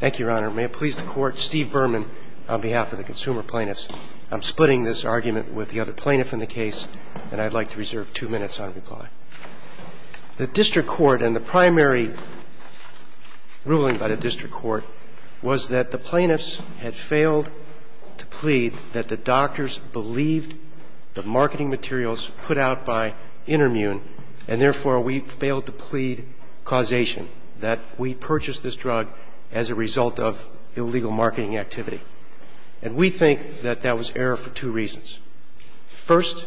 Thank you, Your Honor. May it please the Court, Steve Berman on behalf of the Consumer Plaintiffs. I'm splitting this argument with the other plaintiff in the case, and I'd like to reserve two minutes on reply. The District Court, and the primary ruling by the District Court, was that the plaintiffs had failed to plead that the doctors believed the marketing materials put out by InterMune, and therefore we failed to plead causation, that we purchased this drug as a result of illegal marketing activity. And we think that that was error for two reasons. First,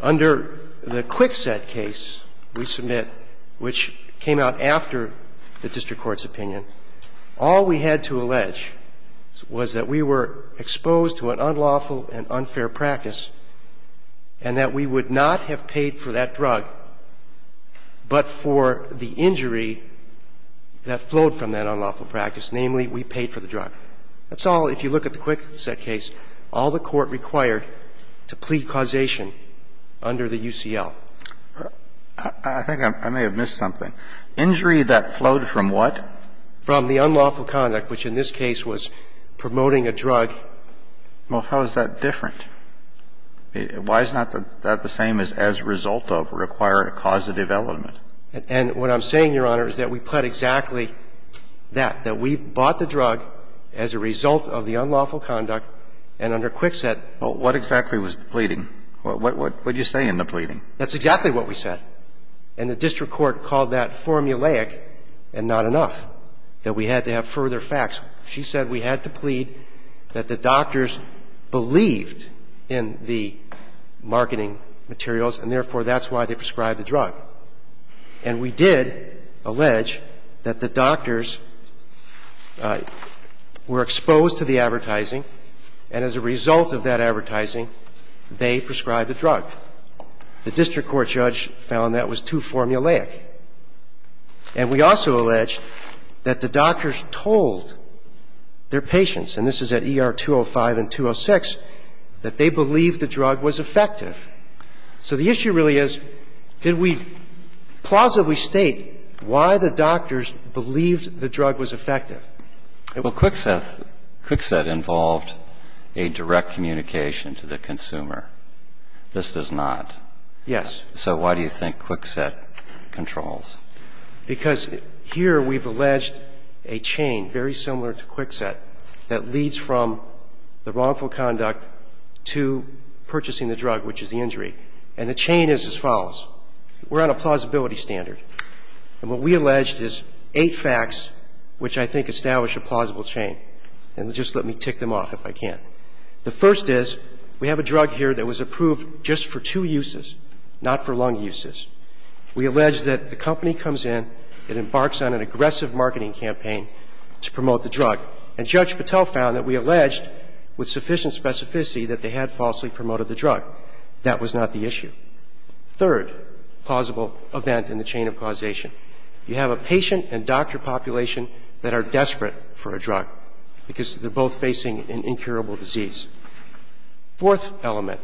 under the Kwikset case we submit, which came out after the District Court's opinion, all we had to allege was that we were exposed to an unlawful and unfair practice, and that we would not have paid for that drug but for the injury that flowed from that unlawful practice, namely we paid for the drug. That's all, if you look at the Kwikset case, all the Court required to plead causation under the UCL. I think I may have missed something. Injury that flowed from what? From the unlawful conduct, which in this case was promoting a drug. Well, how is that different? Why is not that the same as, as a result of, require a causative element? And what I'm saying, Your Honor, is that we pled exactly that, that we bought the drug as a result of the unlawful conduct, and under Kwikset. Well, what exactly was the pleading? What did you say in the pleading? That's exactly what we said. And the District Court called that formulaic and not enough, that we had to have further facts. She said we had to plead that the doctors believed in the marketing materials and, therefore, that's why they prescribed the drug. And we did allege that the doctors were exposed to the advertising, and as a result of that advertising, they prescribed the drug. The District Court judge found that was too formulaic. And we also allege that the doctors told their patients, and this is at ER 205 and 206, that they believed the drug was effective. So the issue really is, did we plausibly state why the doctors believed the drug was effective? Well, Kwikset involved a direct communication to the consumer. This does not. Yes. So why do you think Kwikset controls? Because here we've alleged a chain very similar to Kwikset that leads from the wrongful conduct to purchasing the drug, which is the injury. And the chain is as follows. We're on a plausibility standard. And what we alleged is eight facts which I think establish a plausible chain. And just let me tick them off if I can. The first is we have a drug here that was approved just for two uses, not for lung uses. We allege that the company comes in, it embarks on an aggressive marketing campaign to promote the drug. And Judge Patel found that we alleged with sufficient specificity that they had falsely promoted the drug. That was not the issue. Third plausible event in the chain of causation. You have a patient and doctor population that are desperate for a drug because they're both facing an incurable disease. Fourth element,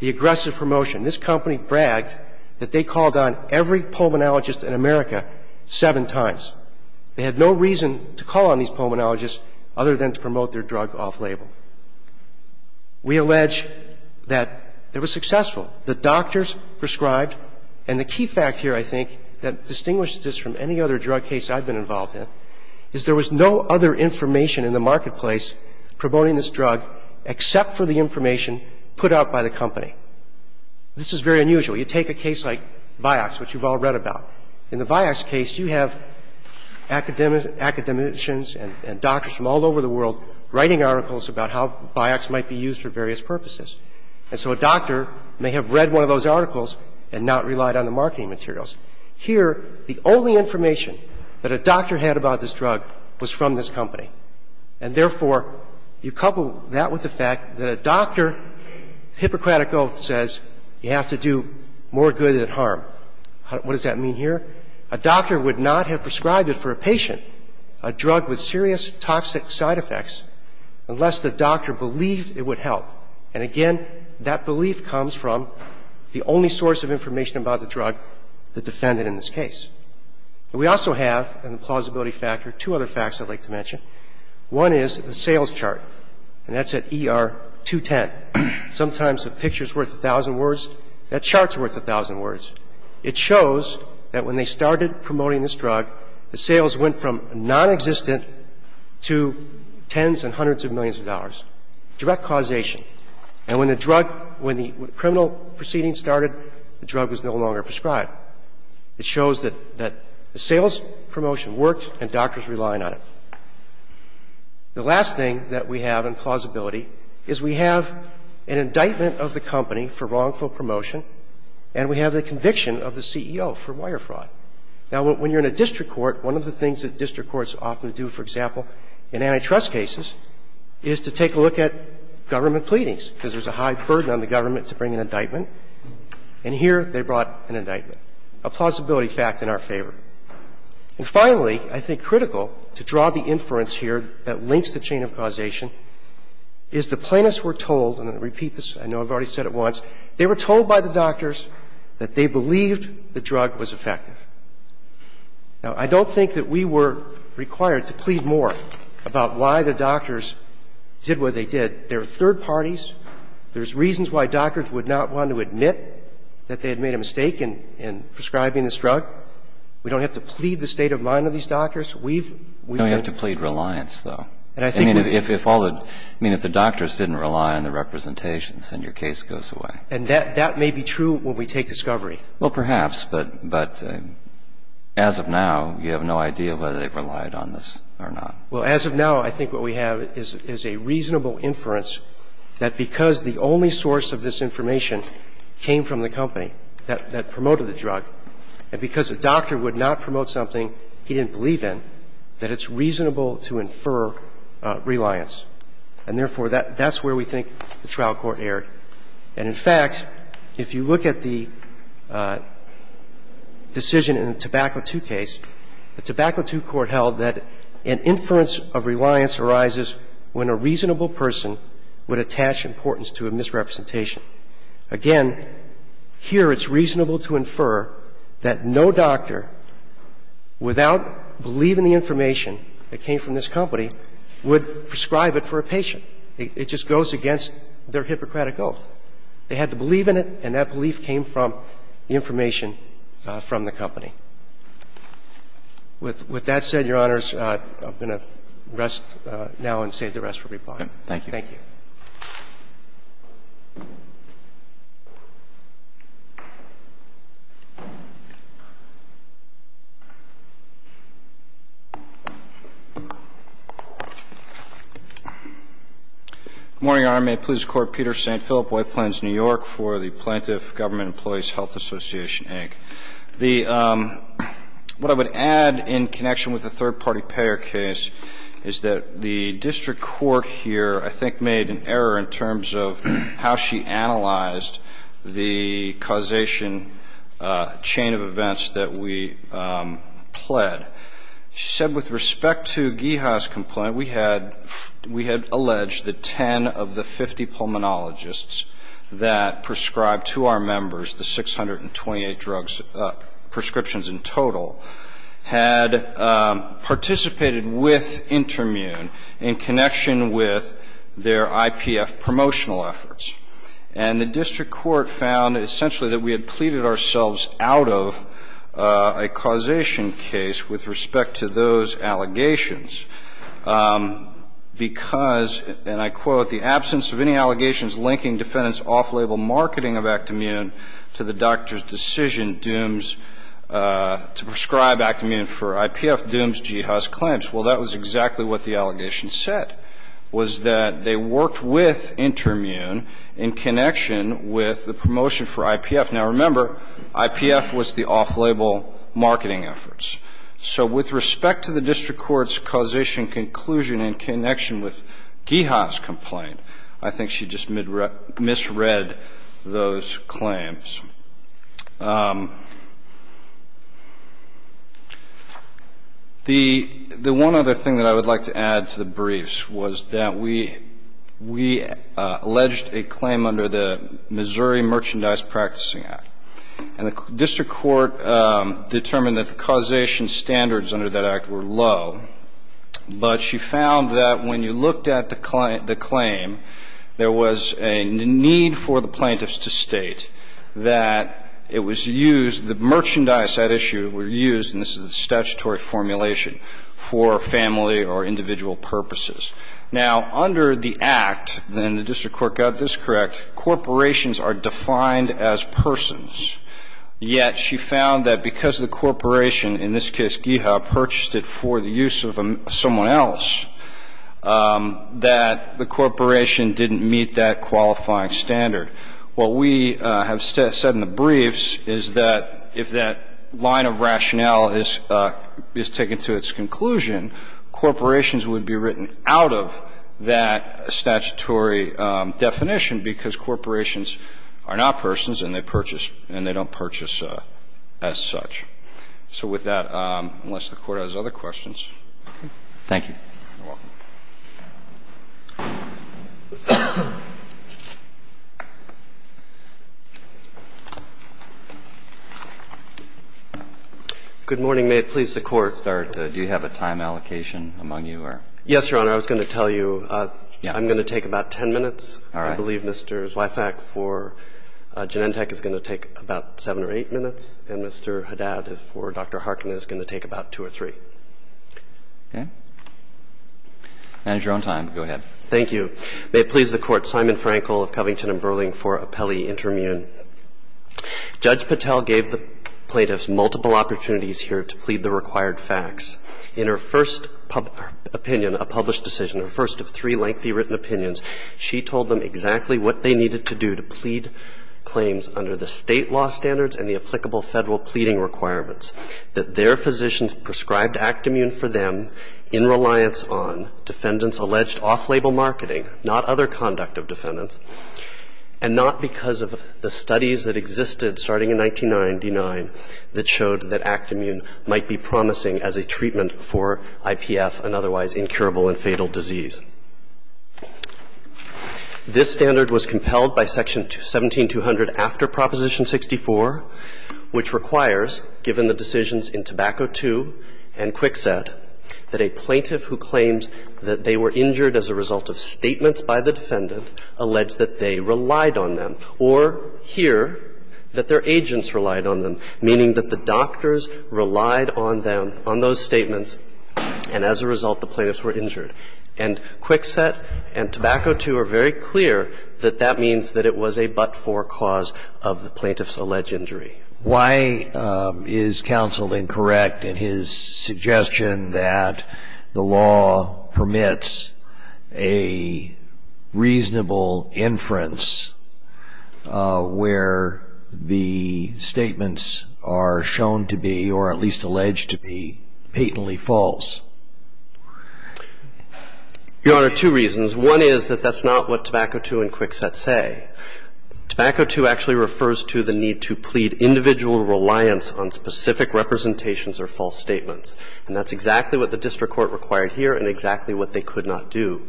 the aggressive promotion. This company bragged that they called on every pulmonologist in America seven times. They had no reason to call on these pulmonologists other than to promote their drug off-label. We allege that it was successful. The doctors prescribed. And the key fact here, I think, that distinguishes this from any other drug case I've been involved in, is there was no other information in the marketplace promoting this drug except for the information put out by the company. This is very unusual. You take a case like Vioxx, which you've all read about. In the Vioxx case, you have academicians and doctors from all over the world writing articles about how Vioxx might be used for various purposes. And so a doctor may have read one of those articles and not relied on the marketing materials. Here, the only information that a doctor had about this drug was from this company. And therefore, you couple that with the fact that a doctor, Hippocratic Oath says you have to do more good than harm. What does that mean here? A doctor would not have prescribed it for a patient, a drug with serious toxic side effects, unless the doctor believed it would help. And again, that belief comes from the only source of information about the drug, the defendant in this case. We also have, in the plausibility factor, two other facts I'd like to mention. One is the sales chart, and that's at ER-210. Sometimes a picture's worth a thousand words. That chart's worth a thousand words. It shows that when they started promoting this drug, the sales went from nonexistent to tens and hundreds of millions of dollars, direct causation. And when the drug – when the criminal proceedings started, the drug was no longer prescribed. It shows that the sales promotion worked and doctors relied on it. The last thing that we have in plausibility is we have an indictment of the company for wrongful promotion, and we have the conviction of the CEO for wire fraud. Now, when you're in a district court, one of the things that district courts often do, for example, in antitrust cases, is to take a look at government pleadings, because there's a high burden on the government to bring an indictment. And here they brought an indictment, a plausibility fact in our favor. And finally, I think critical to draw the inference here that links the chain of causation is the plaintiffs were told, and I'll repeat this. I know I've already said it once. They were told by the doctors that they believed the drug was effective. Now, I don't think that we were required to plead more about why the doctors did what they did. They're third parties. There's reasons why doctors would not want to admit that they had made a mistake in prescribing this drug. We don't have to plead the state of mind of these doctors. We've been – We don't have to plead reliance, though. I mean, if all the – I mean, if the doctors didn't rely on the representations, then your case goes away. And that may be true when we take discovery. Well, perhaps. But as of now, you have no idea whether they relied on this or not. Well, as of now, I think what we have is a reasonable inference that because the only source of this information came from the company that promoted the drug, and because a doctor would not promote something he didn't believe in, that it's reasonable to infer reliance. And therefore, that's where we think the trial court erred. And in fact, if you look at the decision in the Tobacco II case, the Tobacco II court held that an inference of reliance arises when a reasonable person would attach importance to a misrepresentation. Again, here it's reasonable to infer that no doctor, without believing the information that came from this company, would prescribe it for a patient. It just goes against their Hippocratic oath. They had to believe in it, and that belief came from the information from the company. With that said, Your Honors, I'm going to rest now and save the rest for replying. Thank you. Good morning, Your Honor. May it please the Court, Peter St. Philip, White Plains, New York, for the Plaintiff Government Employees Health Association, ag. What I would add, in connection with the third-party payer case, is that the district payer case. of how she analyzed the causation chain of events that we pled. She said, with respect to Geha's complaint, we had alleged that 10 of the 50 pulmonologists that prescribed to our members the 628 prescriptions in total had participated with Intermune in connection with their IPF promotional efforts. And the district court found, essentially, that we had pleaded ourselves out of a causation case with respect to those allegations because, and I quote, the absence of any allegations linking defendants' off-label marketing of Act-Immune to the doctor's decision, Dooms, to prescribe Act-Immune for IPF Dooms Geha's claims. Well, that was exactly what the allegation said, was that they worked with Intermune in connection with the promotion for IPF. Now, remember, IPF was the off-label marketing efforts. So with respect to the district court's causation conclusion in connection with Geha's complaint, I think she just misread those claims. The one other thing that I would like to add to the briefs was that we alleged a claim under the Missouri Merchandise Practicing Act. And the district court determined that the causation standards under that act were low. But she found that when you looked at the claim, there was a need for the plaintiffs to state that it was used, the merchandise, that issue, were used, and this is a statutory formulation, for family or individual purposes. Now, under the act, and the district court got this correct, corporations are defined as persons. Yet she found that because the corporation, in this case Geha, purchased it for the use of someone else, that the corporation didn't meet that qualifying standard. What we have said in the briefs is that if that line of rationale is taken to its conclusion, corporations would be written out of that statutory definition, because corporations are not persons and they purchase and they don't purchase as such. So with that, unless the Court has other questions. Thank you. You're welcome. Good morning. May it please the Court. Do you have a time allocation among you or? Yes, Your Honor. I was going to tell you I'm going to take about 10 minutes. All right. I believe Mr. Zweifach for Genentech is going to take about 7 or 8 minutes, and Mr. Haddad for Dr. Harkin is going to take about 2 or 3. Okay. Manager, on time. Go ahead. Thank you. May it please the Court. Simon Frankel of Covington & Burling for Appellee Interim Union. Judge Patel gave the plaintiffs multiple opportunities here to plead the required facts. In her first public opinion, a published decision, her first of three lengthy written opinions, she told them exactly what they needed to do to plead claims under the State law standards and the applicable Federal pleading requirements, that their physicians prescribed Act-Immune for them in reliance on defendants' alleged off-label marketing, not other conduct of defendants, and not because of the studies that existed starting in 1999 that showed that Act-Immune might be promising as a treatment for IPF and otherwise incurable and fatal disease. This standard was compelled by Section 17200 after Proposition 64, which requires, given the decisions in Tobacco II and Kwikset, that a plaintiff who claims that they were injured as a result of statements by the defendant allege that they relied on them or hear that their agents relied on them, meaning that the doctors relied on them, on those statements, and as a result the plaintiffs were injured. And Kwikset and Tobacco II are very clear that that means that it was a but-for cause of the plaintiff's alleged injury. Why is counsel incorrect in his suggestion that the law permits a reasonable inference where the statements are shown to be, or at least alleged to be, patently false? Your Honor, two reasons. One is that that's not what Tobacco II and Kwikset say. Tobacco II actually refers to the need to plead individual reliance on specific representations or false statements, and that's exactly what the district court required here and exactly what they could not do.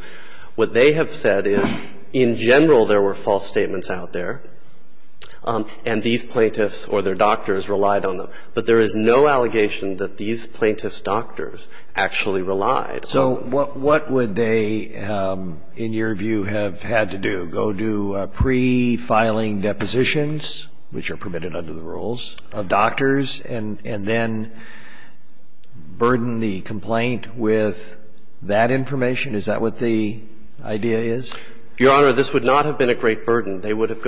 What they have said is in general there were false statements out there, and these plaintiffs or their doctors relied on them. But there is no allegation that these plaintiffs' doctors actually relied. So what would they, in your view, have had to do? Go do pre-filing depositions, which are permitted under the rules of doctors, and then burden the complaint with that information? Is that what the idea is? Your Honor, this would not have been a great burden. They would have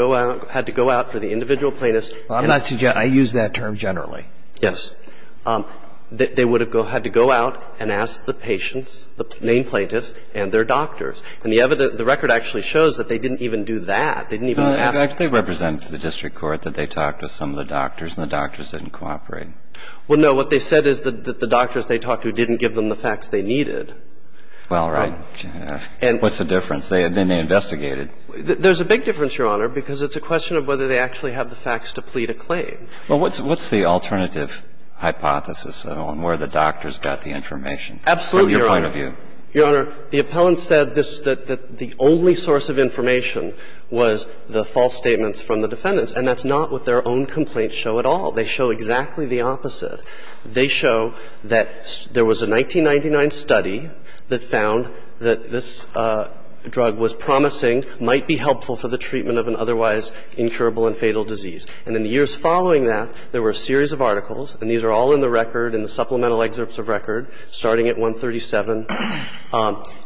had to go out for the individual plaintiffs. I'm not suggesting – I use that term generally. Yes. They would have had to go out and ask the patients, the main plaintiffs, and their doctors. And the record actually shows that they didn't even do that. They didn't even ask them. They represent to the district court that they talked to some of the doctors and the doctors didn't cooperate. Well, no. What they said is that the doctors they talked to didn't give them the facts they needed. Well, right. What's the difference? They may investigate it. have the facts to plead a claim. Well, what's the alternative hypothesis on where the doctors got the information from your point of view? Absolutely, Your Honor. Your Honor, the appellant said this, that the only source of information was the false statements from the defendants. And that's not what their own complaints show at all. They show exactly the opposite. They show that there was a 1999 study that found that this drug was promising, might be helpful for the treatment of an otherwise incurable and fatal disease. And in the years following that, there were a series of articles, and these are all in the record, in the supplemental excerpts of record, starting at 137.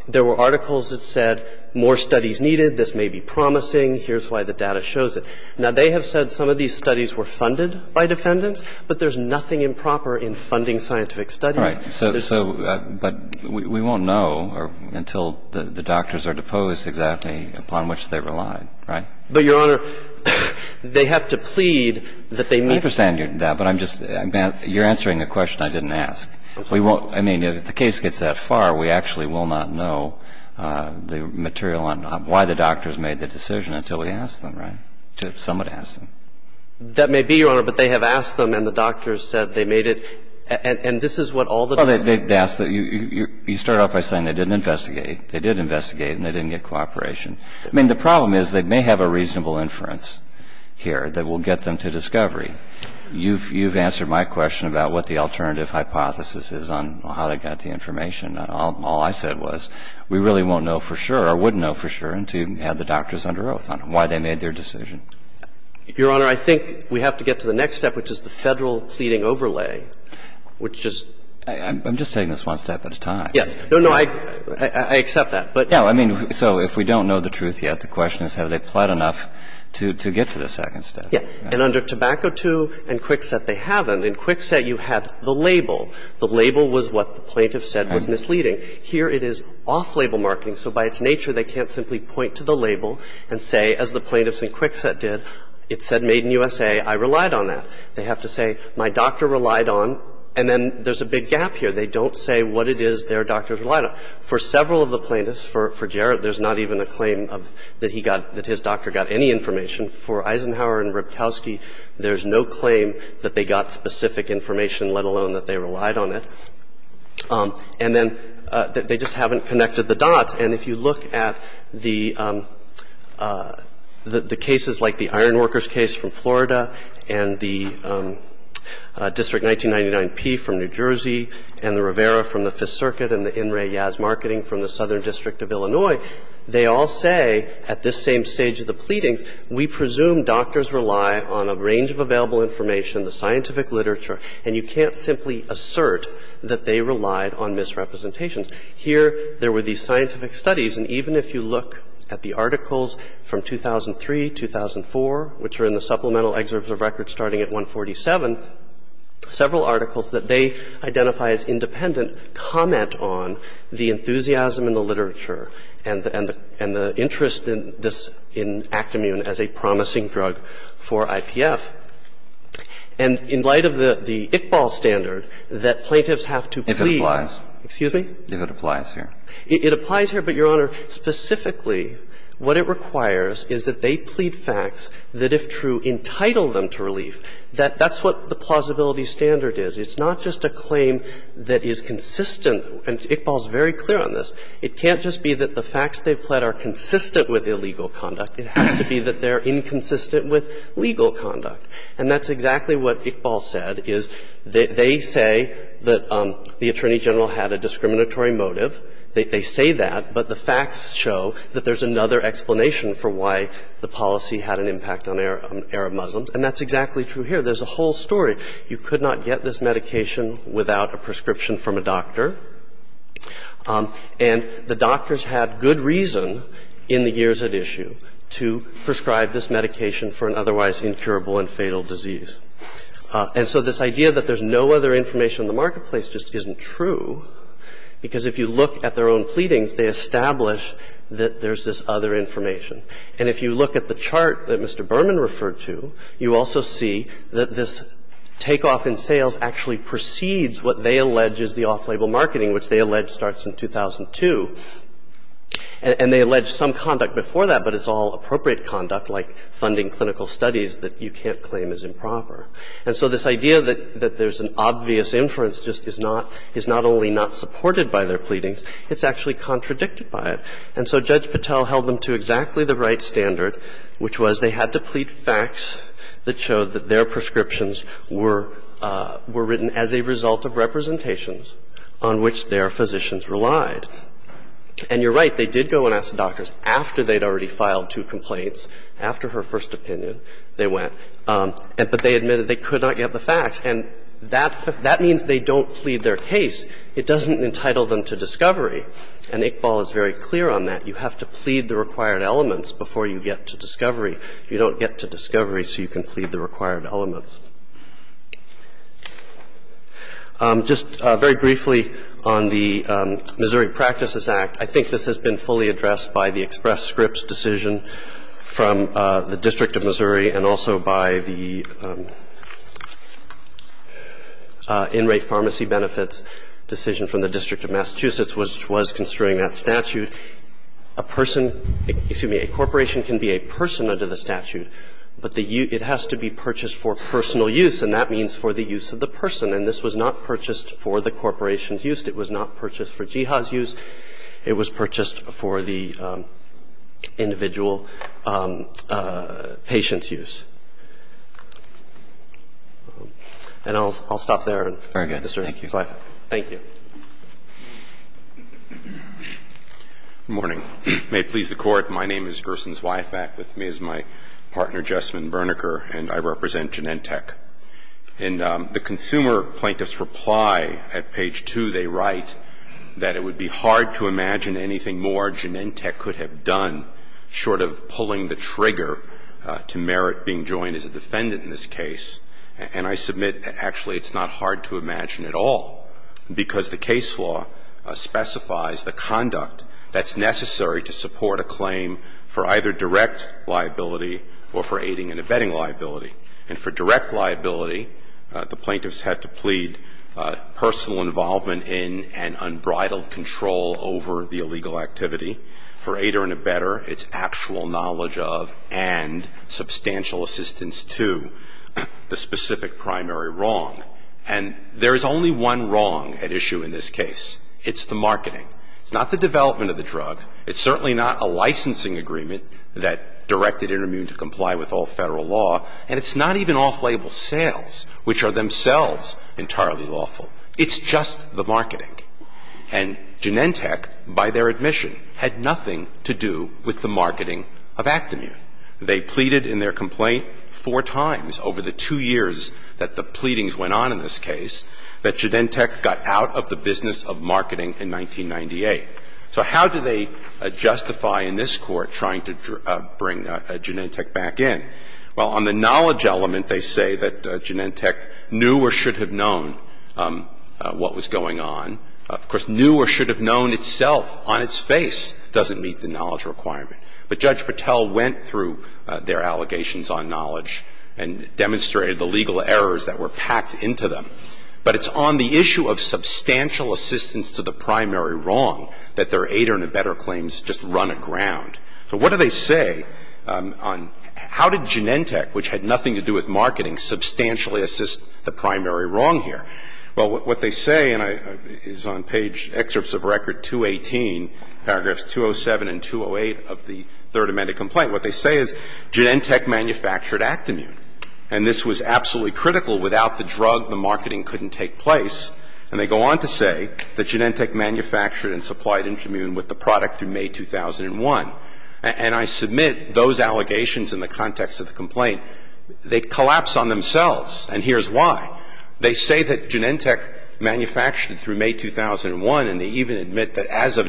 There were articles that said more studies needed, this may be promising, here's why the data shows it. Now, they have said some of these studies were funded by defendants, but there's nothing improper in funding scientific studies. Right. So, but we won't know until the doctors are deposed exactly upon which they relied, right? Right. But, Your Honor, they have to plead that they make the decision. I understand that, but I'm just — you're answering a question I didn't ask. We won't — I mean, if the case gets that far, we actually will not know the material on why the doctors made the decision until we ask them, right, until someone asks them. That may be, Your Honor, but they have asked them and the doctors said they made it, and this is what all the decisions are. Well, they asked — you start off by saying they didn't investigate. They did investigate, and they didn't get cooperation. I mean, the problem is they may have a reasonable inference here that will get them to discovery. You've answered my question about what the alternative hypothesis is on how they got the information. All I said was we really won't know for sure or wouldn't know for sure until you have the doctors under oath on why they made their decision. Your Honor, I think we have to get to the next step, which is the Federal pleading overlay, which just — I'm just taking this one step at a time. No, no. I accept that. No, I mean, so if we don't know the truth yet, the question is have they pled enough to get to the second step. Yeah. And under Tobacco II and Kwikset, they haven't. In Kwikset, you had the label. The label was what the plaintiff said was misleading. Here it is off-label marketing. So by its nature, they can't simply point to the label and say, as the plaintiffs in Kwikset did, it said Made in USA. I relied on that. They have to say my doctor relied on, and then there's a big gap here. They don't say what it is their doctors relied on. For several of the plaintiffs, for Jarrett, there's not even a claim of that he got — that his doctor got any information. For Eisenhower and Rybkowski, there's no claim that they got specific information, let alone that they relied on it. And then they just haven't connected the dots. And if you look at the cases like the Ironworkers case from Florida and the District 1999-P from New Jersey and the Rivera from the Fifth Circuit and the In Re Yaz Marketing from the Southern District of Illinois, they all say at this same stage of the pleadings, we presume doctors rely on a range of available information, the scientific literature, and you can't simply assert that they relied on misrepresentations. Here there were these scientific studies, and even if you look at the articles from 2003, 2004, which are in the supplemental excerpts of records starting at 147, several articles that they identify as independent comment on the enthusiasm in the literature and the interest in this — in Actimune as a promising drug for IPF. And in light of the Iqbal standard that plaintiffs have to plead — If it applies. Excuse me? If it applies here. It applies here, but, Your Honor, specifically what it requires is that they plead facts that, if true, entitle them to relief. That's what the plausibility standard is. It's not just a claim that is consistent. And Iqbal's very clear on this. It can't just be that the facts they've pled are consistent with illegal conduct. It has to be that they're inconsistent with legal conduct. And that's exactly what Iqbal said, is they say that the Attorney General had a discriminatory motive. They say that, but the facts show that there's another explanation for why the policy had an impact on Arab Muslims. And that's exactly true here. There's a whole story. You could not get this medication without a prescription from a doctor, and the doctors had good reason in the years at issue to prescribe this medication for an otherwise incurable and fatal disease. And so this idea that there's no other information in the marketplace just isn't true, because if you look at their own pleadings, they establish that there's this other information. And if you look at the chart that Mr. Berman referred to, you also see that this takeoff in sales actually precedes what they allege is the off-label marketing, which they allege starts in 2002. And they allege some conduct before that, but it's all appropriate conduct like funding clinical studies that you can't claim is improper. And so this idea that there's an obvious inference just is not – is not only not supported by their pleadings, it's actually contradicted by it. And so Judge Patel held them to exactly the right standard, which was they had to plead facts that showed that their prescriptions were written as a result of representations on which their physicians relied. And you're right, they did go and ask the doctors. After they'd already filed two complaints, after her first opinion, they went. But they admitted they could not get the facts. And that means they don't plead their case. It doesn't entitle them to discovery. And Iqbal is very clear on that. You have to plead the required elements before you get to discovery. You don't get to discovery so you can plead the required elements. Just very briefly on the Missouri Practices Act, I think this has been fully addressed by the Express Scripts decision from the District of Missouri and also by the In-Rate Pharmacy Benefits decision from the District of Massachusetts, which was construing that statute. A person – excuse me, a corporation can be a person under the statute, but it has to be purchased for personal use, and that means for the use of the person. And it was purchased for personal use. It was not purchased for Jihad's use. It was purchased for the individual patient's use. And I'll stop there. Very good. Thank you. Thank you. Good morning. May it please the Court, my name is Gerson Zweifack. With me is my partner, Jessamine Berneker, and I represent Genentech. In the consumer plaintiff's reply at page 2, they write that it would be hard to imagine anything more Genentech could have done, short of pulling the trigger to merit being joined as a defendant in this case. And I submit that actually it's not hard to imagine at all, because the case law specifies the conduct that's necessary to support a claim for either direct liability or for aiding and abetting liability. And for direct liability, the plaintiffs had to plead personal involvement in and unbridled control over the illegal activity. For aider and abetter, it's actual knowledge of and substantial assistance to the specific primary wrong. And there is only one wrong at issue in this case. It's the marketing. It's not the licensing agreement that directed Intermune to comply with all Federal law, and it's not even off-label sales, which are themselves entirely lawful. It's just the marketing. And Genentech, by their admission, had nothing to do with the marketing of Actimune. They pleaded in their complaint four times over the two years that the pleadings went on in this case that Genentech got out of the business of marketing in 1998. So how do they justify in this Court trying to bring Genentech back in? Well, on the knowledge element, they say that Genentech knew or should have known what was going on. Of course, knew or should have known itself on its face doesn't meet the knowledge requirement. But Judge Patel went through their allegations on knowledge and demonstrated the legal errors that were packed into them. But it's on the issue of substantial assistance to the primary wrong that their Aider and Abetter claims just run aground. So what do they say on how did Genentech, which had nothing to do with marketing, substantially assist the primary wrong here? Well, what they say, and it's on page excerpts of record 218, paragraphs 207 and 208 of the Third Amendment complaint, what they say is Genentech manufactured Actimune. And this was absolutely critical. Without the drug, the marketing couldn't take place. And they go on to say that Genentech manufactured and supplied Actimune with the product through May 2001. And I submit those allegations in the context of the complaint, they collapse on themselves, and here's why. They say that Genentech manufactured through May 2001, and they even admit that as of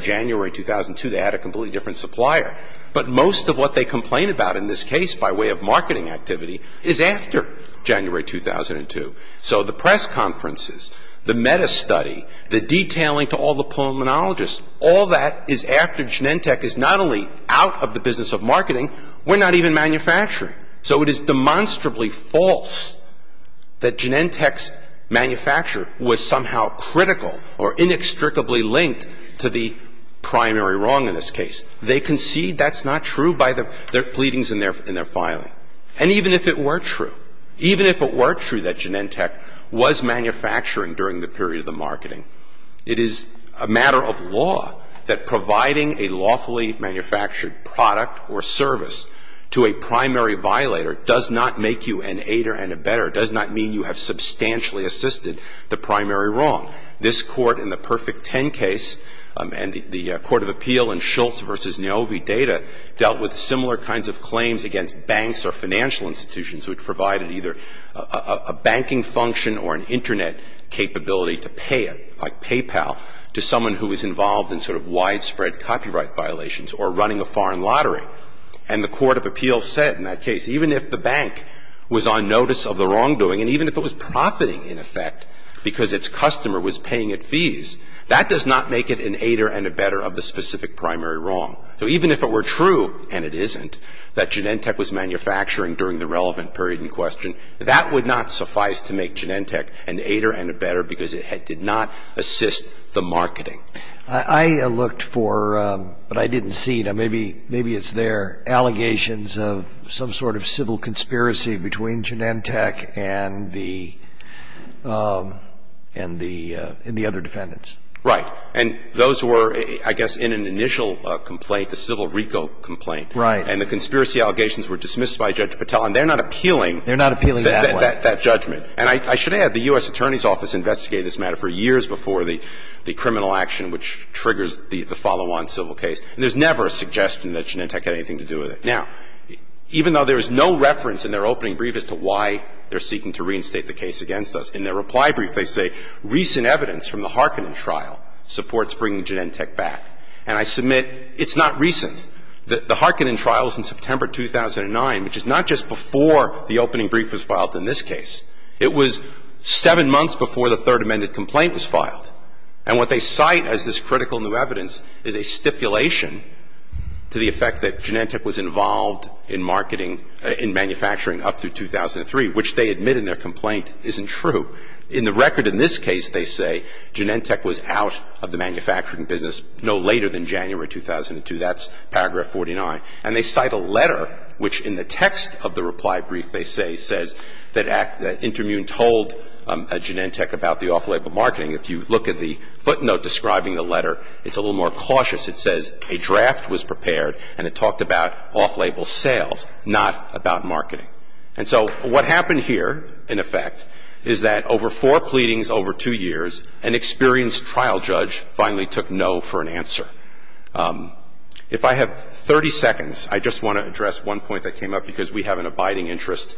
case by way of marketing activity, is after January 2002. So the press conferences, the meta-study, the detailing to all the pulmonologists, all that is after Genentech is not only out of the business of marketing, we're not even manufacturing. So it is demonstrably false that Genentech's manufacture was somehow critical or inextricably linked to the primary wrong in this case. They concede that's not true by the pleadings in their filing. And even if it were true, even if it were true that Genentech was manufacturing during the period of the marketing, it is a matter of law that providing a lawfully manufactured product or service to a primary violator does not make you an aider and abetter, does not mean you have substantially assisted the primary wrong. This Court, in the Perfect Ten case, and the Court of Appeal in Schultz v. Novi Data, dealt with similar kinds of claims against banks or financial institutions which provided either a banking function or an Internet capability to pay it, like PayPal, to someone who was involved in sort of widespread copyright violations or running a foreign lottery. And the Court of Appeal said in that case, even if the bank was on notice of the wrongdoing and even if it was profiting, in effect, because its customer was paying it fees, that does not make it an aider and abetter of the specific primary wrong. So even if it were true, and it isn't, that Genentech was manufacturing during the relevant period in question, that would not suffice to make Genentech an aider and abetter because it did not assist the marketing. I looked for, but I didn't see, maybe it's there, allegations of some sort of civil conspiracy between Genentech and the other defendants. Right. And those were, I guess, in an initial complaint, the civil RICO complaint. Right. And the conspiracy allegations were dismissed by Judge Patel. And they're not appealing. They're not appealing that way. That judgment. And I should add, the U.S. Attorney's Office investigated this matter for years before the criminal action which triggers the follow-on civil case. And there's never a suggestion that Genentech had anything to do with it. Now, even though there is no reference in their opening brief as to why they're seeking to reinstate the case against us, in their reply brief they say, recent evidence from the Harkonnen trial supports bringing Genentech back. And I submit it's not recent. The Harkonnen trial was in September 2009, which is not just before the opening brief was filed in this case. It was seven months before the Third Amendment complaint was filed. And what they cite as this critical new evidence is a stipulation to the effect that Genentech was involved in marketing, in manufacturing up through 2003, which they admit in their complaint isn't true. In the record in this case, they say Genentech was out of the manufacturing business no later than January 2002. That's paragraph 49. And they cite a letter which in the text of the reply brief, they say, says that Intermune told Genentech about the off-label marketing. If you look at the footnote describing the letter, it's a little more cautious. It says a draft was prepared and it talked about off-label sales, not about marketing. And so what happened here, in effect, is that over four pleadings over two years, an experienced trial judge finally took no for an answer. If I have 30 seconds, I just want to address one point that came up because we have an abiding interest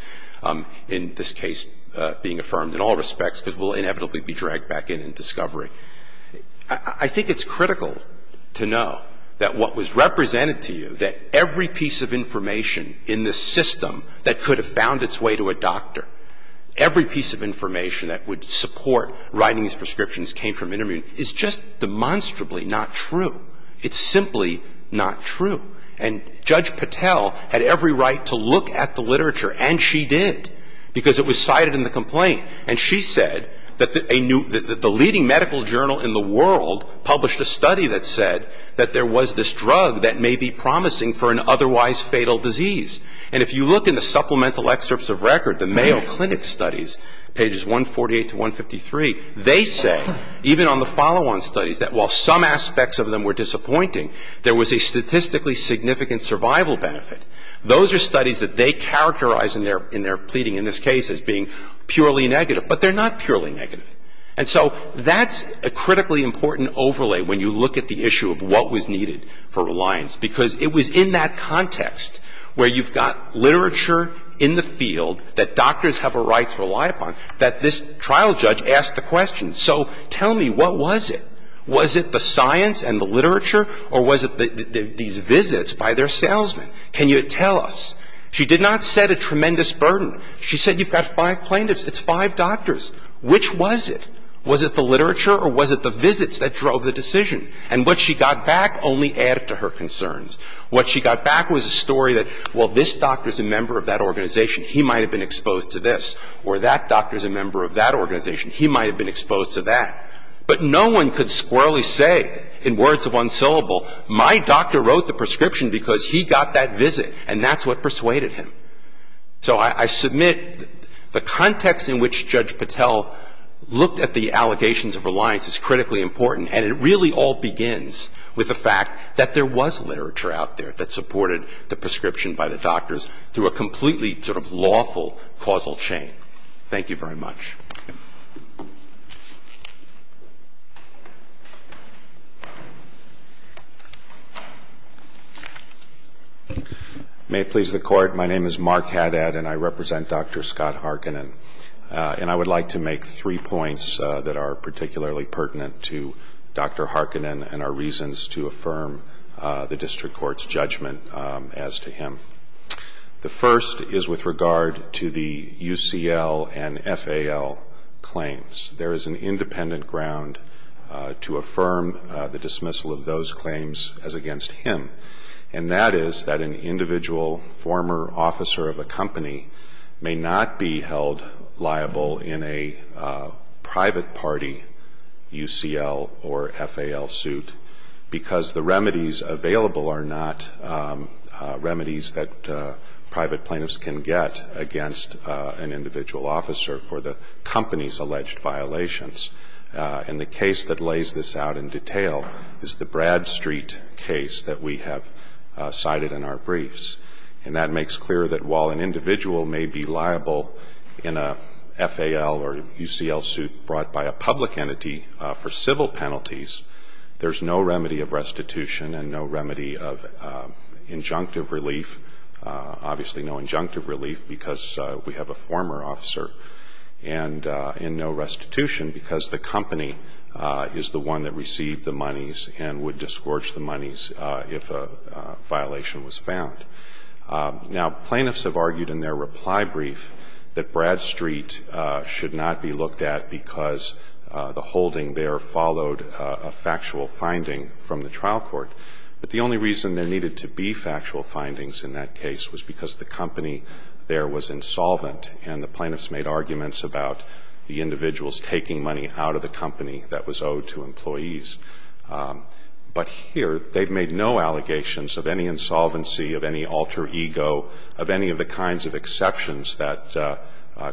in this case being affirmed in all respects because we'll inevitably be dragged back in in discovery. I think it's critical to know that what was represented to you, that every piece of information in this system that could have found its way to a doctor, every piece of information that would support writing these prescriptions came from Intermune, is just demonstrably not true. It's simply not true. And Judge Patel had every right to look at the literature, and she did, because it was cited in the complaint. And she said that the leading medical journal in the world published a study that said that there was this drug that may be promising for an otherwise fatal disease. And if you look in the supplemental excerpts of record, the Mayo Clinic studies, pages 148 to 153, they say, even on the follow-on studies, that while some aspects of them were disappointing, there was a statistically significant survival benefit. Those are studies that they characterize in their pleading in this case as being needed for reliance, because it was in that context where you've got literature in the field that doctors have a right to rely upon, that this trial judge asked the question, so tell me, what was it? Was it the science and the literature, or was it these visits by their salesmen? Can you tell us? She did not set a tremendous burden. She said you've got five plaintiffs. It's five doctors. Which was it? Was it the literature or was it the visits that she got back only added to her concerns? What she got back was a story that, well, this doctor's a member of that organization. He might have been exposed to this. Or that doctor's a member of that organization. He might have been exposed to that. But no one could squarely say in words of one syllable, my doctor wrote the prescription because he got that visit, and that's what persuaded him. So I submit the context in which Judge Patel looked at the allegations of reliance is critically important, and it really all begins with the fact that there was literature out there that supported the prescription by the doctors through a completely sort of lawful causal chain. Thank you very much. May it please the Court. My name is Mark Haddad, and I represent Dr. Scott Harkonnen. And I would like to make three points that are particularly pertinent to Dr. Harkonnen and are reasons to affirm the district court's judgment as to him. The first is with regard to the UCL and FAL. There is an independent ground to affirm the dismissal of those claims as against him. And that is that an individual former officer of a company may not be held liable in a private party UCL or FAL suit because the remedies available are not remedies that private plaintiffs can get against an individual officer for the kind of company's alleged violations. And the case that lays this out in detail is the Bradstreet case that we have cited in our briefs. And that makes clear that while an individual may be liable in a FAL or UCL suit brought by a public entity for civil penalties, there's no remedy of restitution and no remedy of injunctive relief, obviously no injunctive relief, because we have a former officer and no restitution because the company is the one that received the monies and would disgorge the monies if a violation was found. Now, plaintiffs have argued in their reply brief that Bradstreet should not be looked at because the holding there followed a factual finding from the trial court. But the only reason there needed to be factual findings in that case was because the company there was insolvent and the plaintiffs made arguments about the individuals taking money out of the company that was owed to employees. But here they've made no allegations of any insolvency, of any alter ego, of any of the kinds of exceptions that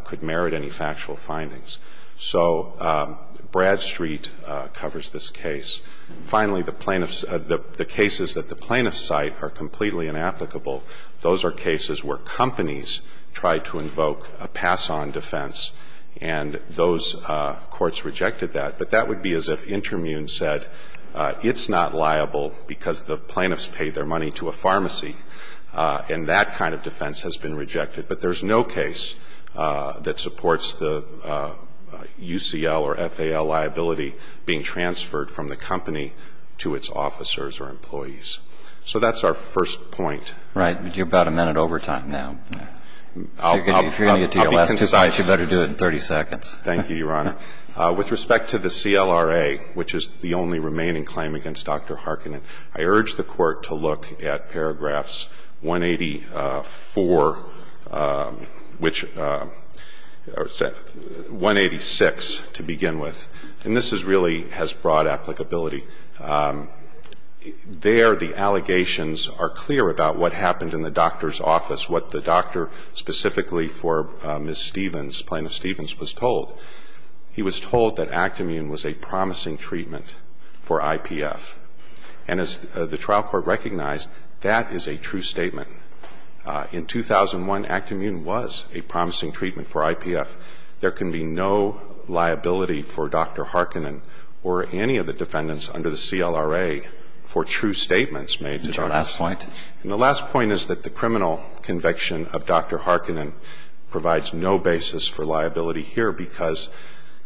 could merit any factual findings. So Bradstreet covers this case. Finally, the plaintiffs – the cases that the plaintiffs cite are completely inapplicable. Those are cases where companies try to invoke a pass-on defense, and those courts rejected that. But that would be as if Intermune said it's not liable because the plaintiffs paid their money to a pharmacy, and that kind of defense has been rejected. But there's no case that supports the UCL or FAL liability being transferred from the company to its officers or employees. So that's our first point. Right. But you're about a minute over time now. I'll be concise. So if you're going to get to your last two points, you better do it in 30 seconds. Thank you, Your Honor. With respect to the CLRA, which is the only remaining claim against Dr. Harkin, I urge the Court to look at paragraphs 184, which – 186 to begin with. And this is really – has broad applicability. There the allegations are clear about what happened in the doctor's office, what the doctor specifically for Ms. Stevens, Plaintiff Stevens, was told. He was told that Act-Immune was a promising treatment for IPF. And as the trial court recognized, that is a true statement. In 2001, Act-Immune was a promising treatment for IPF. There can be no liability for Dr. Harkin or any of the defendants under the CLRA for true statements made. Your last point. And the last point is that the criminal conviction of Dr. Harkin provides no basis for liability here because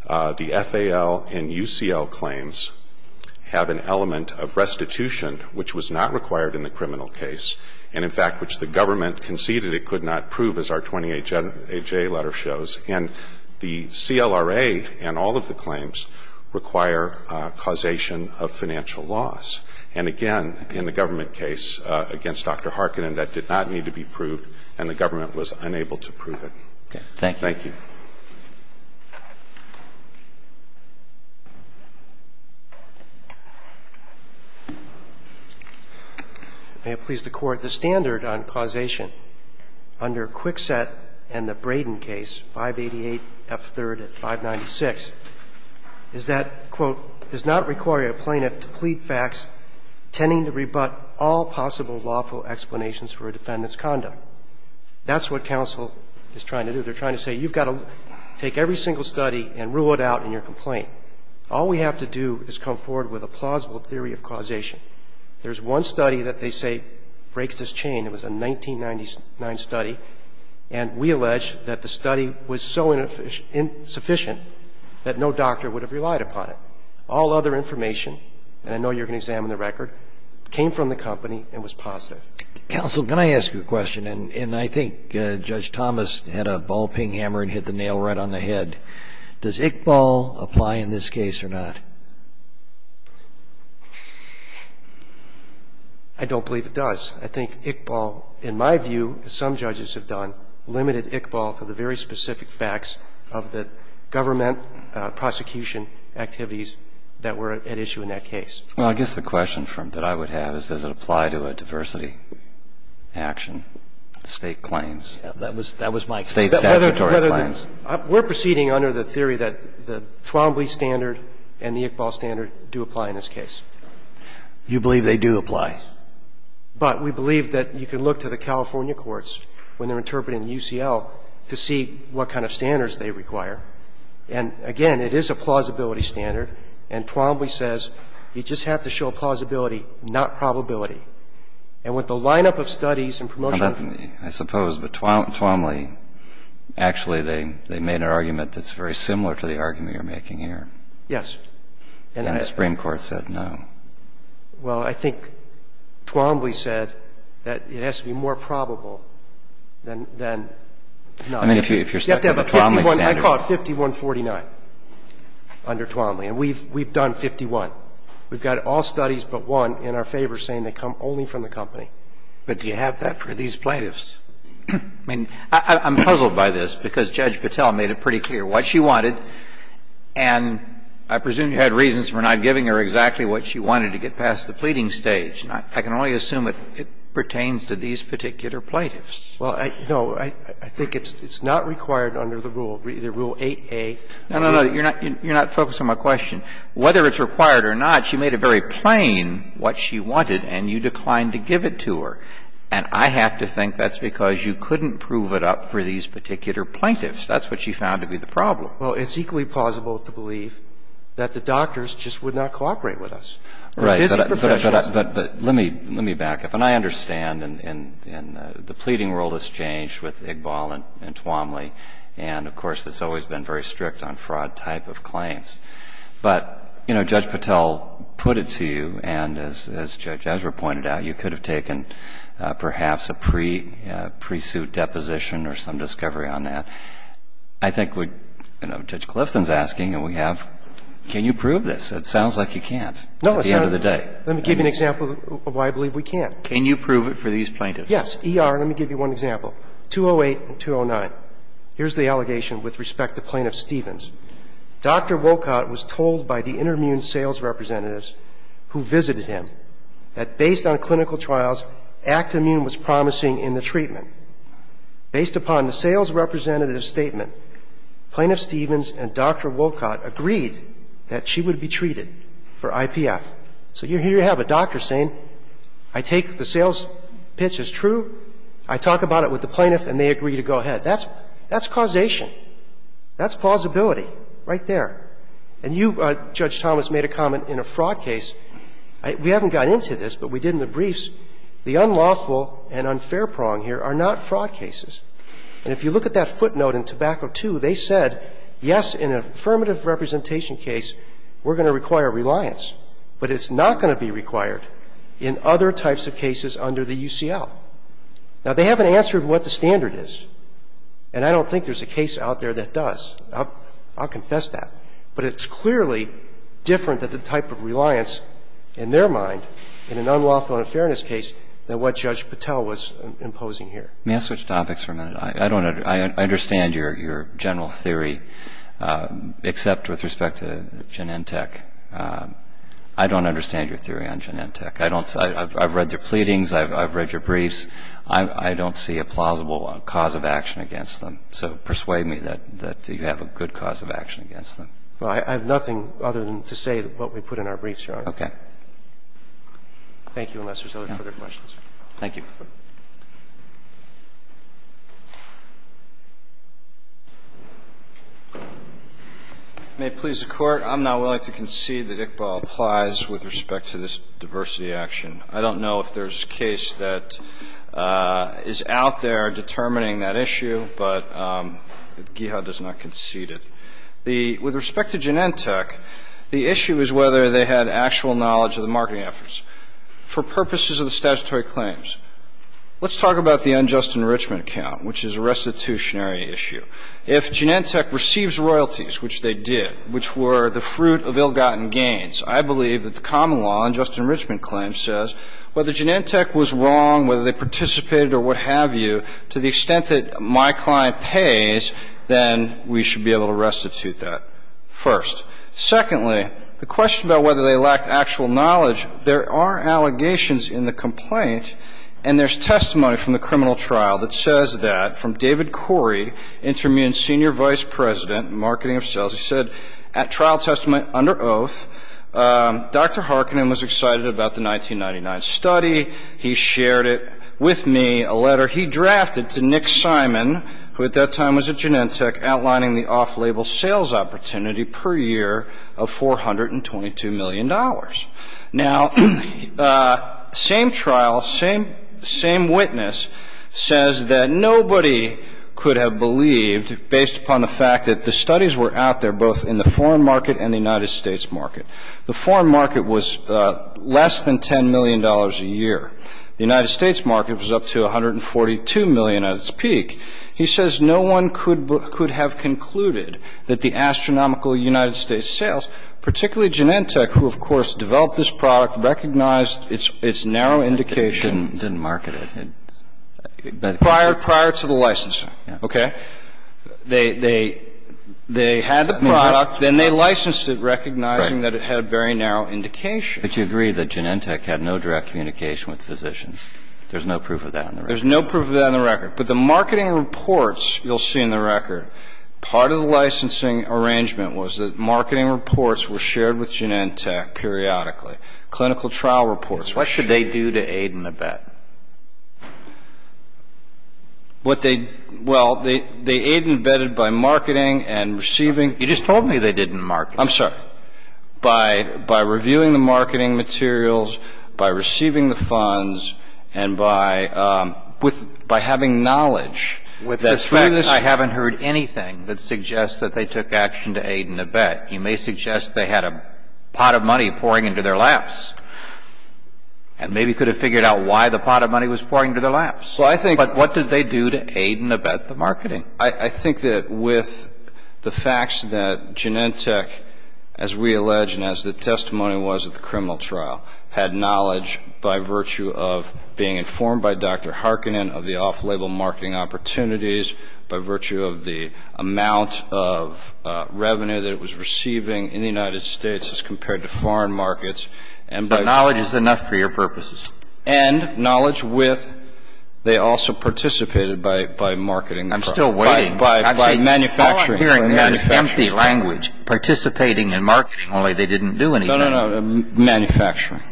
the FAL and UCL claims have an element of restitution, which was not required in the criminal case. And, in fact, which the government conceded it could not prove, as our 20HA letter shows. And the CLRA and all of the claims require causation of financial loss. And, again, in the government case against Dr. Harkin, that did not need to be proved and the government was unable to prove it. Thank you. May it please the Court, the standard on causation under Kwikset and the Braden case, 588F3rd at 596, is that, quote, does not require a plaintiff to plead facts tending to rebut all possible lawful explanations for a defendant's conduct. That's what counsel is trying to do. They're trying to say you've got to take every single study and rule it out in your complaint. All we have to do is come forward with a plausible theory of causation. There's one study that they say breaks this chain. It was a 1999 study. And we allege that the study was so insufficient that no doctor would have relied upon it. All other information, and I know you're going to examine the record, came from the company and was positive. Counsel, can I ask you a question? And I think Judge Thomas had a ball-ping hammer and hit the nail right on the head. Does Iqbal apply in this case or not? I don't believe it does. I think Iqbal, in my view, as some judges have done, limited Iqbal to the very specific facts of the government prosecution activities that were at issue in that case. Well, I guess the question that I would have is, does it apply to a diversity action, State claims? That was my question. State statutory claims. We're proceeding under the theory that the Twombly standard and the Iqbal standard do apply in this case. You believe they do apply? But we believe that you can look to the California courts when they're interpreting the UCL to see what kind of standards they require. And, again, it is a plausibility standard, and Twombly says you just have to show plausibility, not probability. And with the lineup of studies and promotion of the study, I suppose, but Twombly says you just have to show probability. Actually, they made an argument that's very similar to the argument you're making here. Yes. And the Supreme Court said no. Well, I think Twombly said that it has to be more probable than not. I mean, if you're stuck with the Twombly standard. You have to have a 51 – I call it 5149 under Twombly. And we've done 51. We've got all studies but one in our favor saying they come only from the company. But do you have that for these plaintiffs? I mean, I'm puzzled by this because Judge Patel made it pretty clear what she wanted. And I presume you had reasons for not giving her exactly what she wanted to get past the pleading stage. And I can only assume it pertains to these particular plaintiffs. Well, no. I think it's not required under the rule, either Rule 8a or the other. No, no, no. You're not focused on my question. Whether it's required or not, she made it very plain what she wanted, and you declined to give it to her. And I have to think that's because you couldn't prove it up for these particular plaintiffs. That's what she found to be the problem. Well, it's equally plausible to believe that the doctors just would not cooperate with us. Right. But let me back up. And I understand, and the pleading rule has changed with Iqbal and Twombly. And, of course, it's always been very strict on fraud type of claims. But, you know, Judge Patel put it to you, and as Judge Ezra pointed out, you could have taken perhaps a pre-suit deposition or some discovery on that. I think what, you know, Judge Clifton's asking, and we have, can you prove this? It sounds like you can't at the end of the day. No, let me give you an example of why I believe we can't. Can you prove it for these plaintiffs? Yes. E.R., let me give you one example. 208 and 209. Here's the allegation with respect to Plaintiff Stevens. Dr. Wolcott was told by the intermune sales representatives who visited him that based on clinical trials, Act Immune was promising in the treatment. Based upon the sales representative's statement, Plaintiff Stevens and Dr. Wolcott agreed that she would be treated for IPF. So here you have a doctor saying, I take the sales pitch as true. I talk about it with the plaintiff, and they agree to go ahead. That's causation. That's plausibility. Right there. And you, Judge Thomas, made a comment in a fraud case. We haven't got into this, but we did in the briefs. The unlawful and unfair prong here are not fraud cases. And if you look at that footnote in Tobacco II, they said, yes, in an affirmative representation case, we're going to require reliance, but it's not going to be required in other types of cases under the UCL. Now, they haven't answered what the standard is, and I don't think there's a case out there that does. I'll confess that. But it's clearly different than the type of reliance in their mind in an unlawful and unfairness case than what Judge Patel was imposing here. May I switch topics for a minute? I don't know. I understand your general theory, except with respect to Genentech. I don't understand your theory on Genentech. I don't see – I've read your pleadings. I've read your briefs. I don't see a plausible cause of action against them. So persuade me that you have a good cause of action against them. Well, I have nothing other than to say what we put in our briefs, Your Honor. Okay. Thank you, unless there's other further questions. Thank you. May it please the Court, I'm not willing to concede that Iqbal applies with respect to this diversity action. I don't know if there's a case that is out there determining that issue, but Gihad does not concede it. With respect to Genentech, the issue is whether they had actual knowledge of the marketing efforts. For purposes of the statutory claims, let's talk about the unjust enrichment account, which is a restitutionary issue. If Genentech receives royalties, which they did, which were the fruit of ill-gotten gains, I believe that the common law unjust enrichment claim says whether Genentech was wrong, whether they participated or what have you, to the extent that my client pays, then we should be able to restitute that first. Secondly, the question about whether they lacked actual knowledge, there are allegations in the complaint, and there's testimony from the criminal trial that says that from David Corey, Intermune's senior vice president in marketing of sales. As I said, at trial testament under oath, Dr. Harkinen was excited about the 1999 study. He shared it with me, a letter he drafted to Nick Simon, who at that time was at Genentech, outlining the off-label sales opportunity per year of $422 million. Now, same trial, same witness says that nobody could have believed, based upon the fact that the studies were out there both in the foreign market and the United States market, the foreign market was less than $10 million a year. The United States market was up to $142 million at its peak. He says no one could have concluded that the astronomical United States sales, particularly Genentech, who, of course, developed this product, recognized its narrow indication. And so the fact that the United States market was more than $142 million, and the company was not aware of it, didn't market it. Prior to the licensing, okay? They had the product, then they licensed it, recognizing that it had a very narrow indication. But you agree that Genentech had no direct communication with physicians. There's no proof of that on the record. There's no proof of that on the record. But the marketing reports you'll see in the record, part of the licensing arrangement was that marketing reports were shared with Genentech periodically. Clinical trial reports were shared. What should they do to aid and abet? What they – well, they aid and abetted by marketing and receiving. You just told me they didn't market. I'm sorry. Well, by reviewing the marketing materials, by receiving the funds, and by having knowledge, with respect to this, I haven't heard anything that suggests that they took action to aid and abet. You may suggest they had a pot of money pouring into their laps, and maybe could have figured out why the pot of money was pouring into their laps. Well, I think – But what did they do to aid and abet the marketing? I think that with the facts that Genentech, as we allege and as the testimony was at the criminal trial, had knowledge by virtue of being informed by Dr. Harkonnen of the off-label marketing opportunities, by virtue of the amount of revenue that it was receiving in the United States as compared to foreign markets, and by – But knowledge is enough for your purposes. And knowledge with – they also participated by marketing. I'm still waiting. By manufacturing. All I'm hearing is empty language. Participating in marketing, only they didn't do anything. No, no, no. Manufacturing.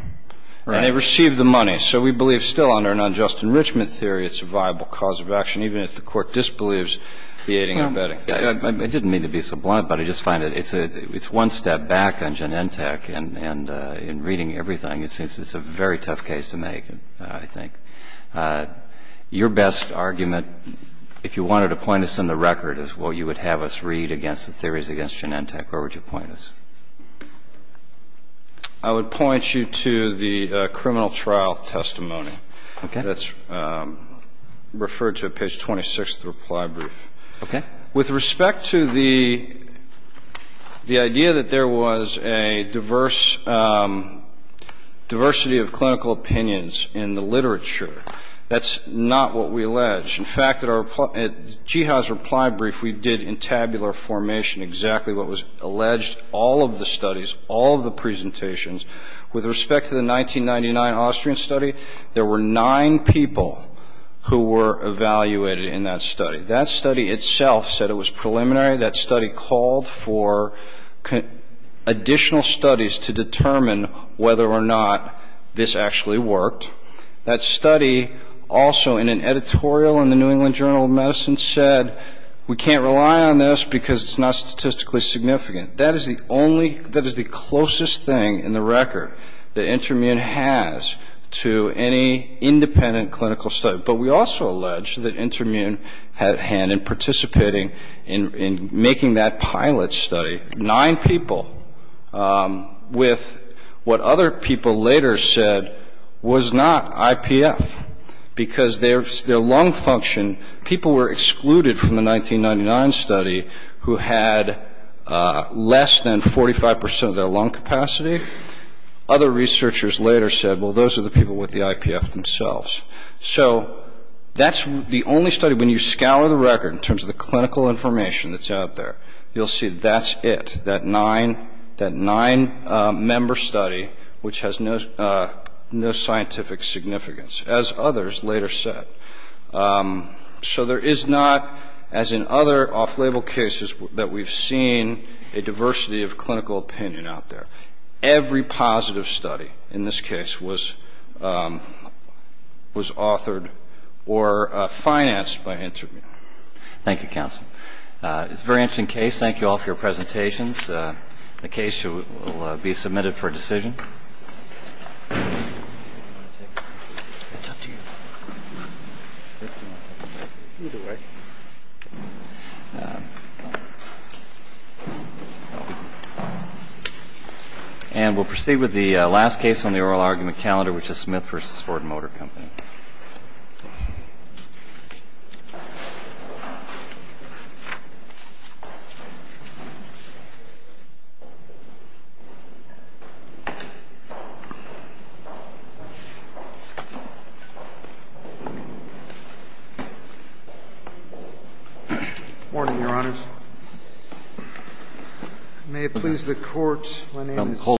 Right. And they received the money. So we believe still under an unjust enrichment theory it's a viable cause of action, even if the court disbelieves the aiding and abetting. I didn't mean to be so blunt, but I just find it's one step back on Genentech. And in reading everything, it seems it's a very tough case to make, I think. Your best argument, if you wanted to point us in the record, is what you would have us read against the theories against Genentech. Where would you point us? I would point you to the criminal trial testimony. Okay. That's referred to at page 26 of the reply brief. Okay. With respect to the idea that there was a diversity of clinical opinions in the literature, that's not what we allege. In fact, at Geha's reply brief, we did in tabular formation exactly what was alleged. All of the studies, all of the presentations, with respect to the 1999 Austrian study, there were nine people who were evaluated in that study. That study itself said it was preliminary. That study called for additional studies to determine whether or not this actually worked. That study also in an editorial in the New England Journal of Medicine said, we can't rely on this because it's not statistically significant. That is the closest thing in the record that Intermune has to any independent clinical study. But we also allege that Intermune had a hand in participating in making that pilot study. Nine people with what other people later said was not IPF because their lung function, people were excluded from the 1999 study who had less than 45 percent of their lung capacity. Other researchers later said, well, those are the people with the IPF themselves. So that's the only study, when you scour the record in terms of the clinical information that's out there, you'll see that's it, that nine-member study which has no scientific significance, as others later said. So there is not, as in other off-label cases, that we've seen a diversity of clinical opinion out there. Every positive study in this case was authored or financed by Intermune. Thank you, counsel. It's a very interesting case. Thank you all for your presentations. The case will be submitted for decision. And we'll proceed with the last case on the oral argument calendar, which is Smith v. Ford Motor Company. Thank you.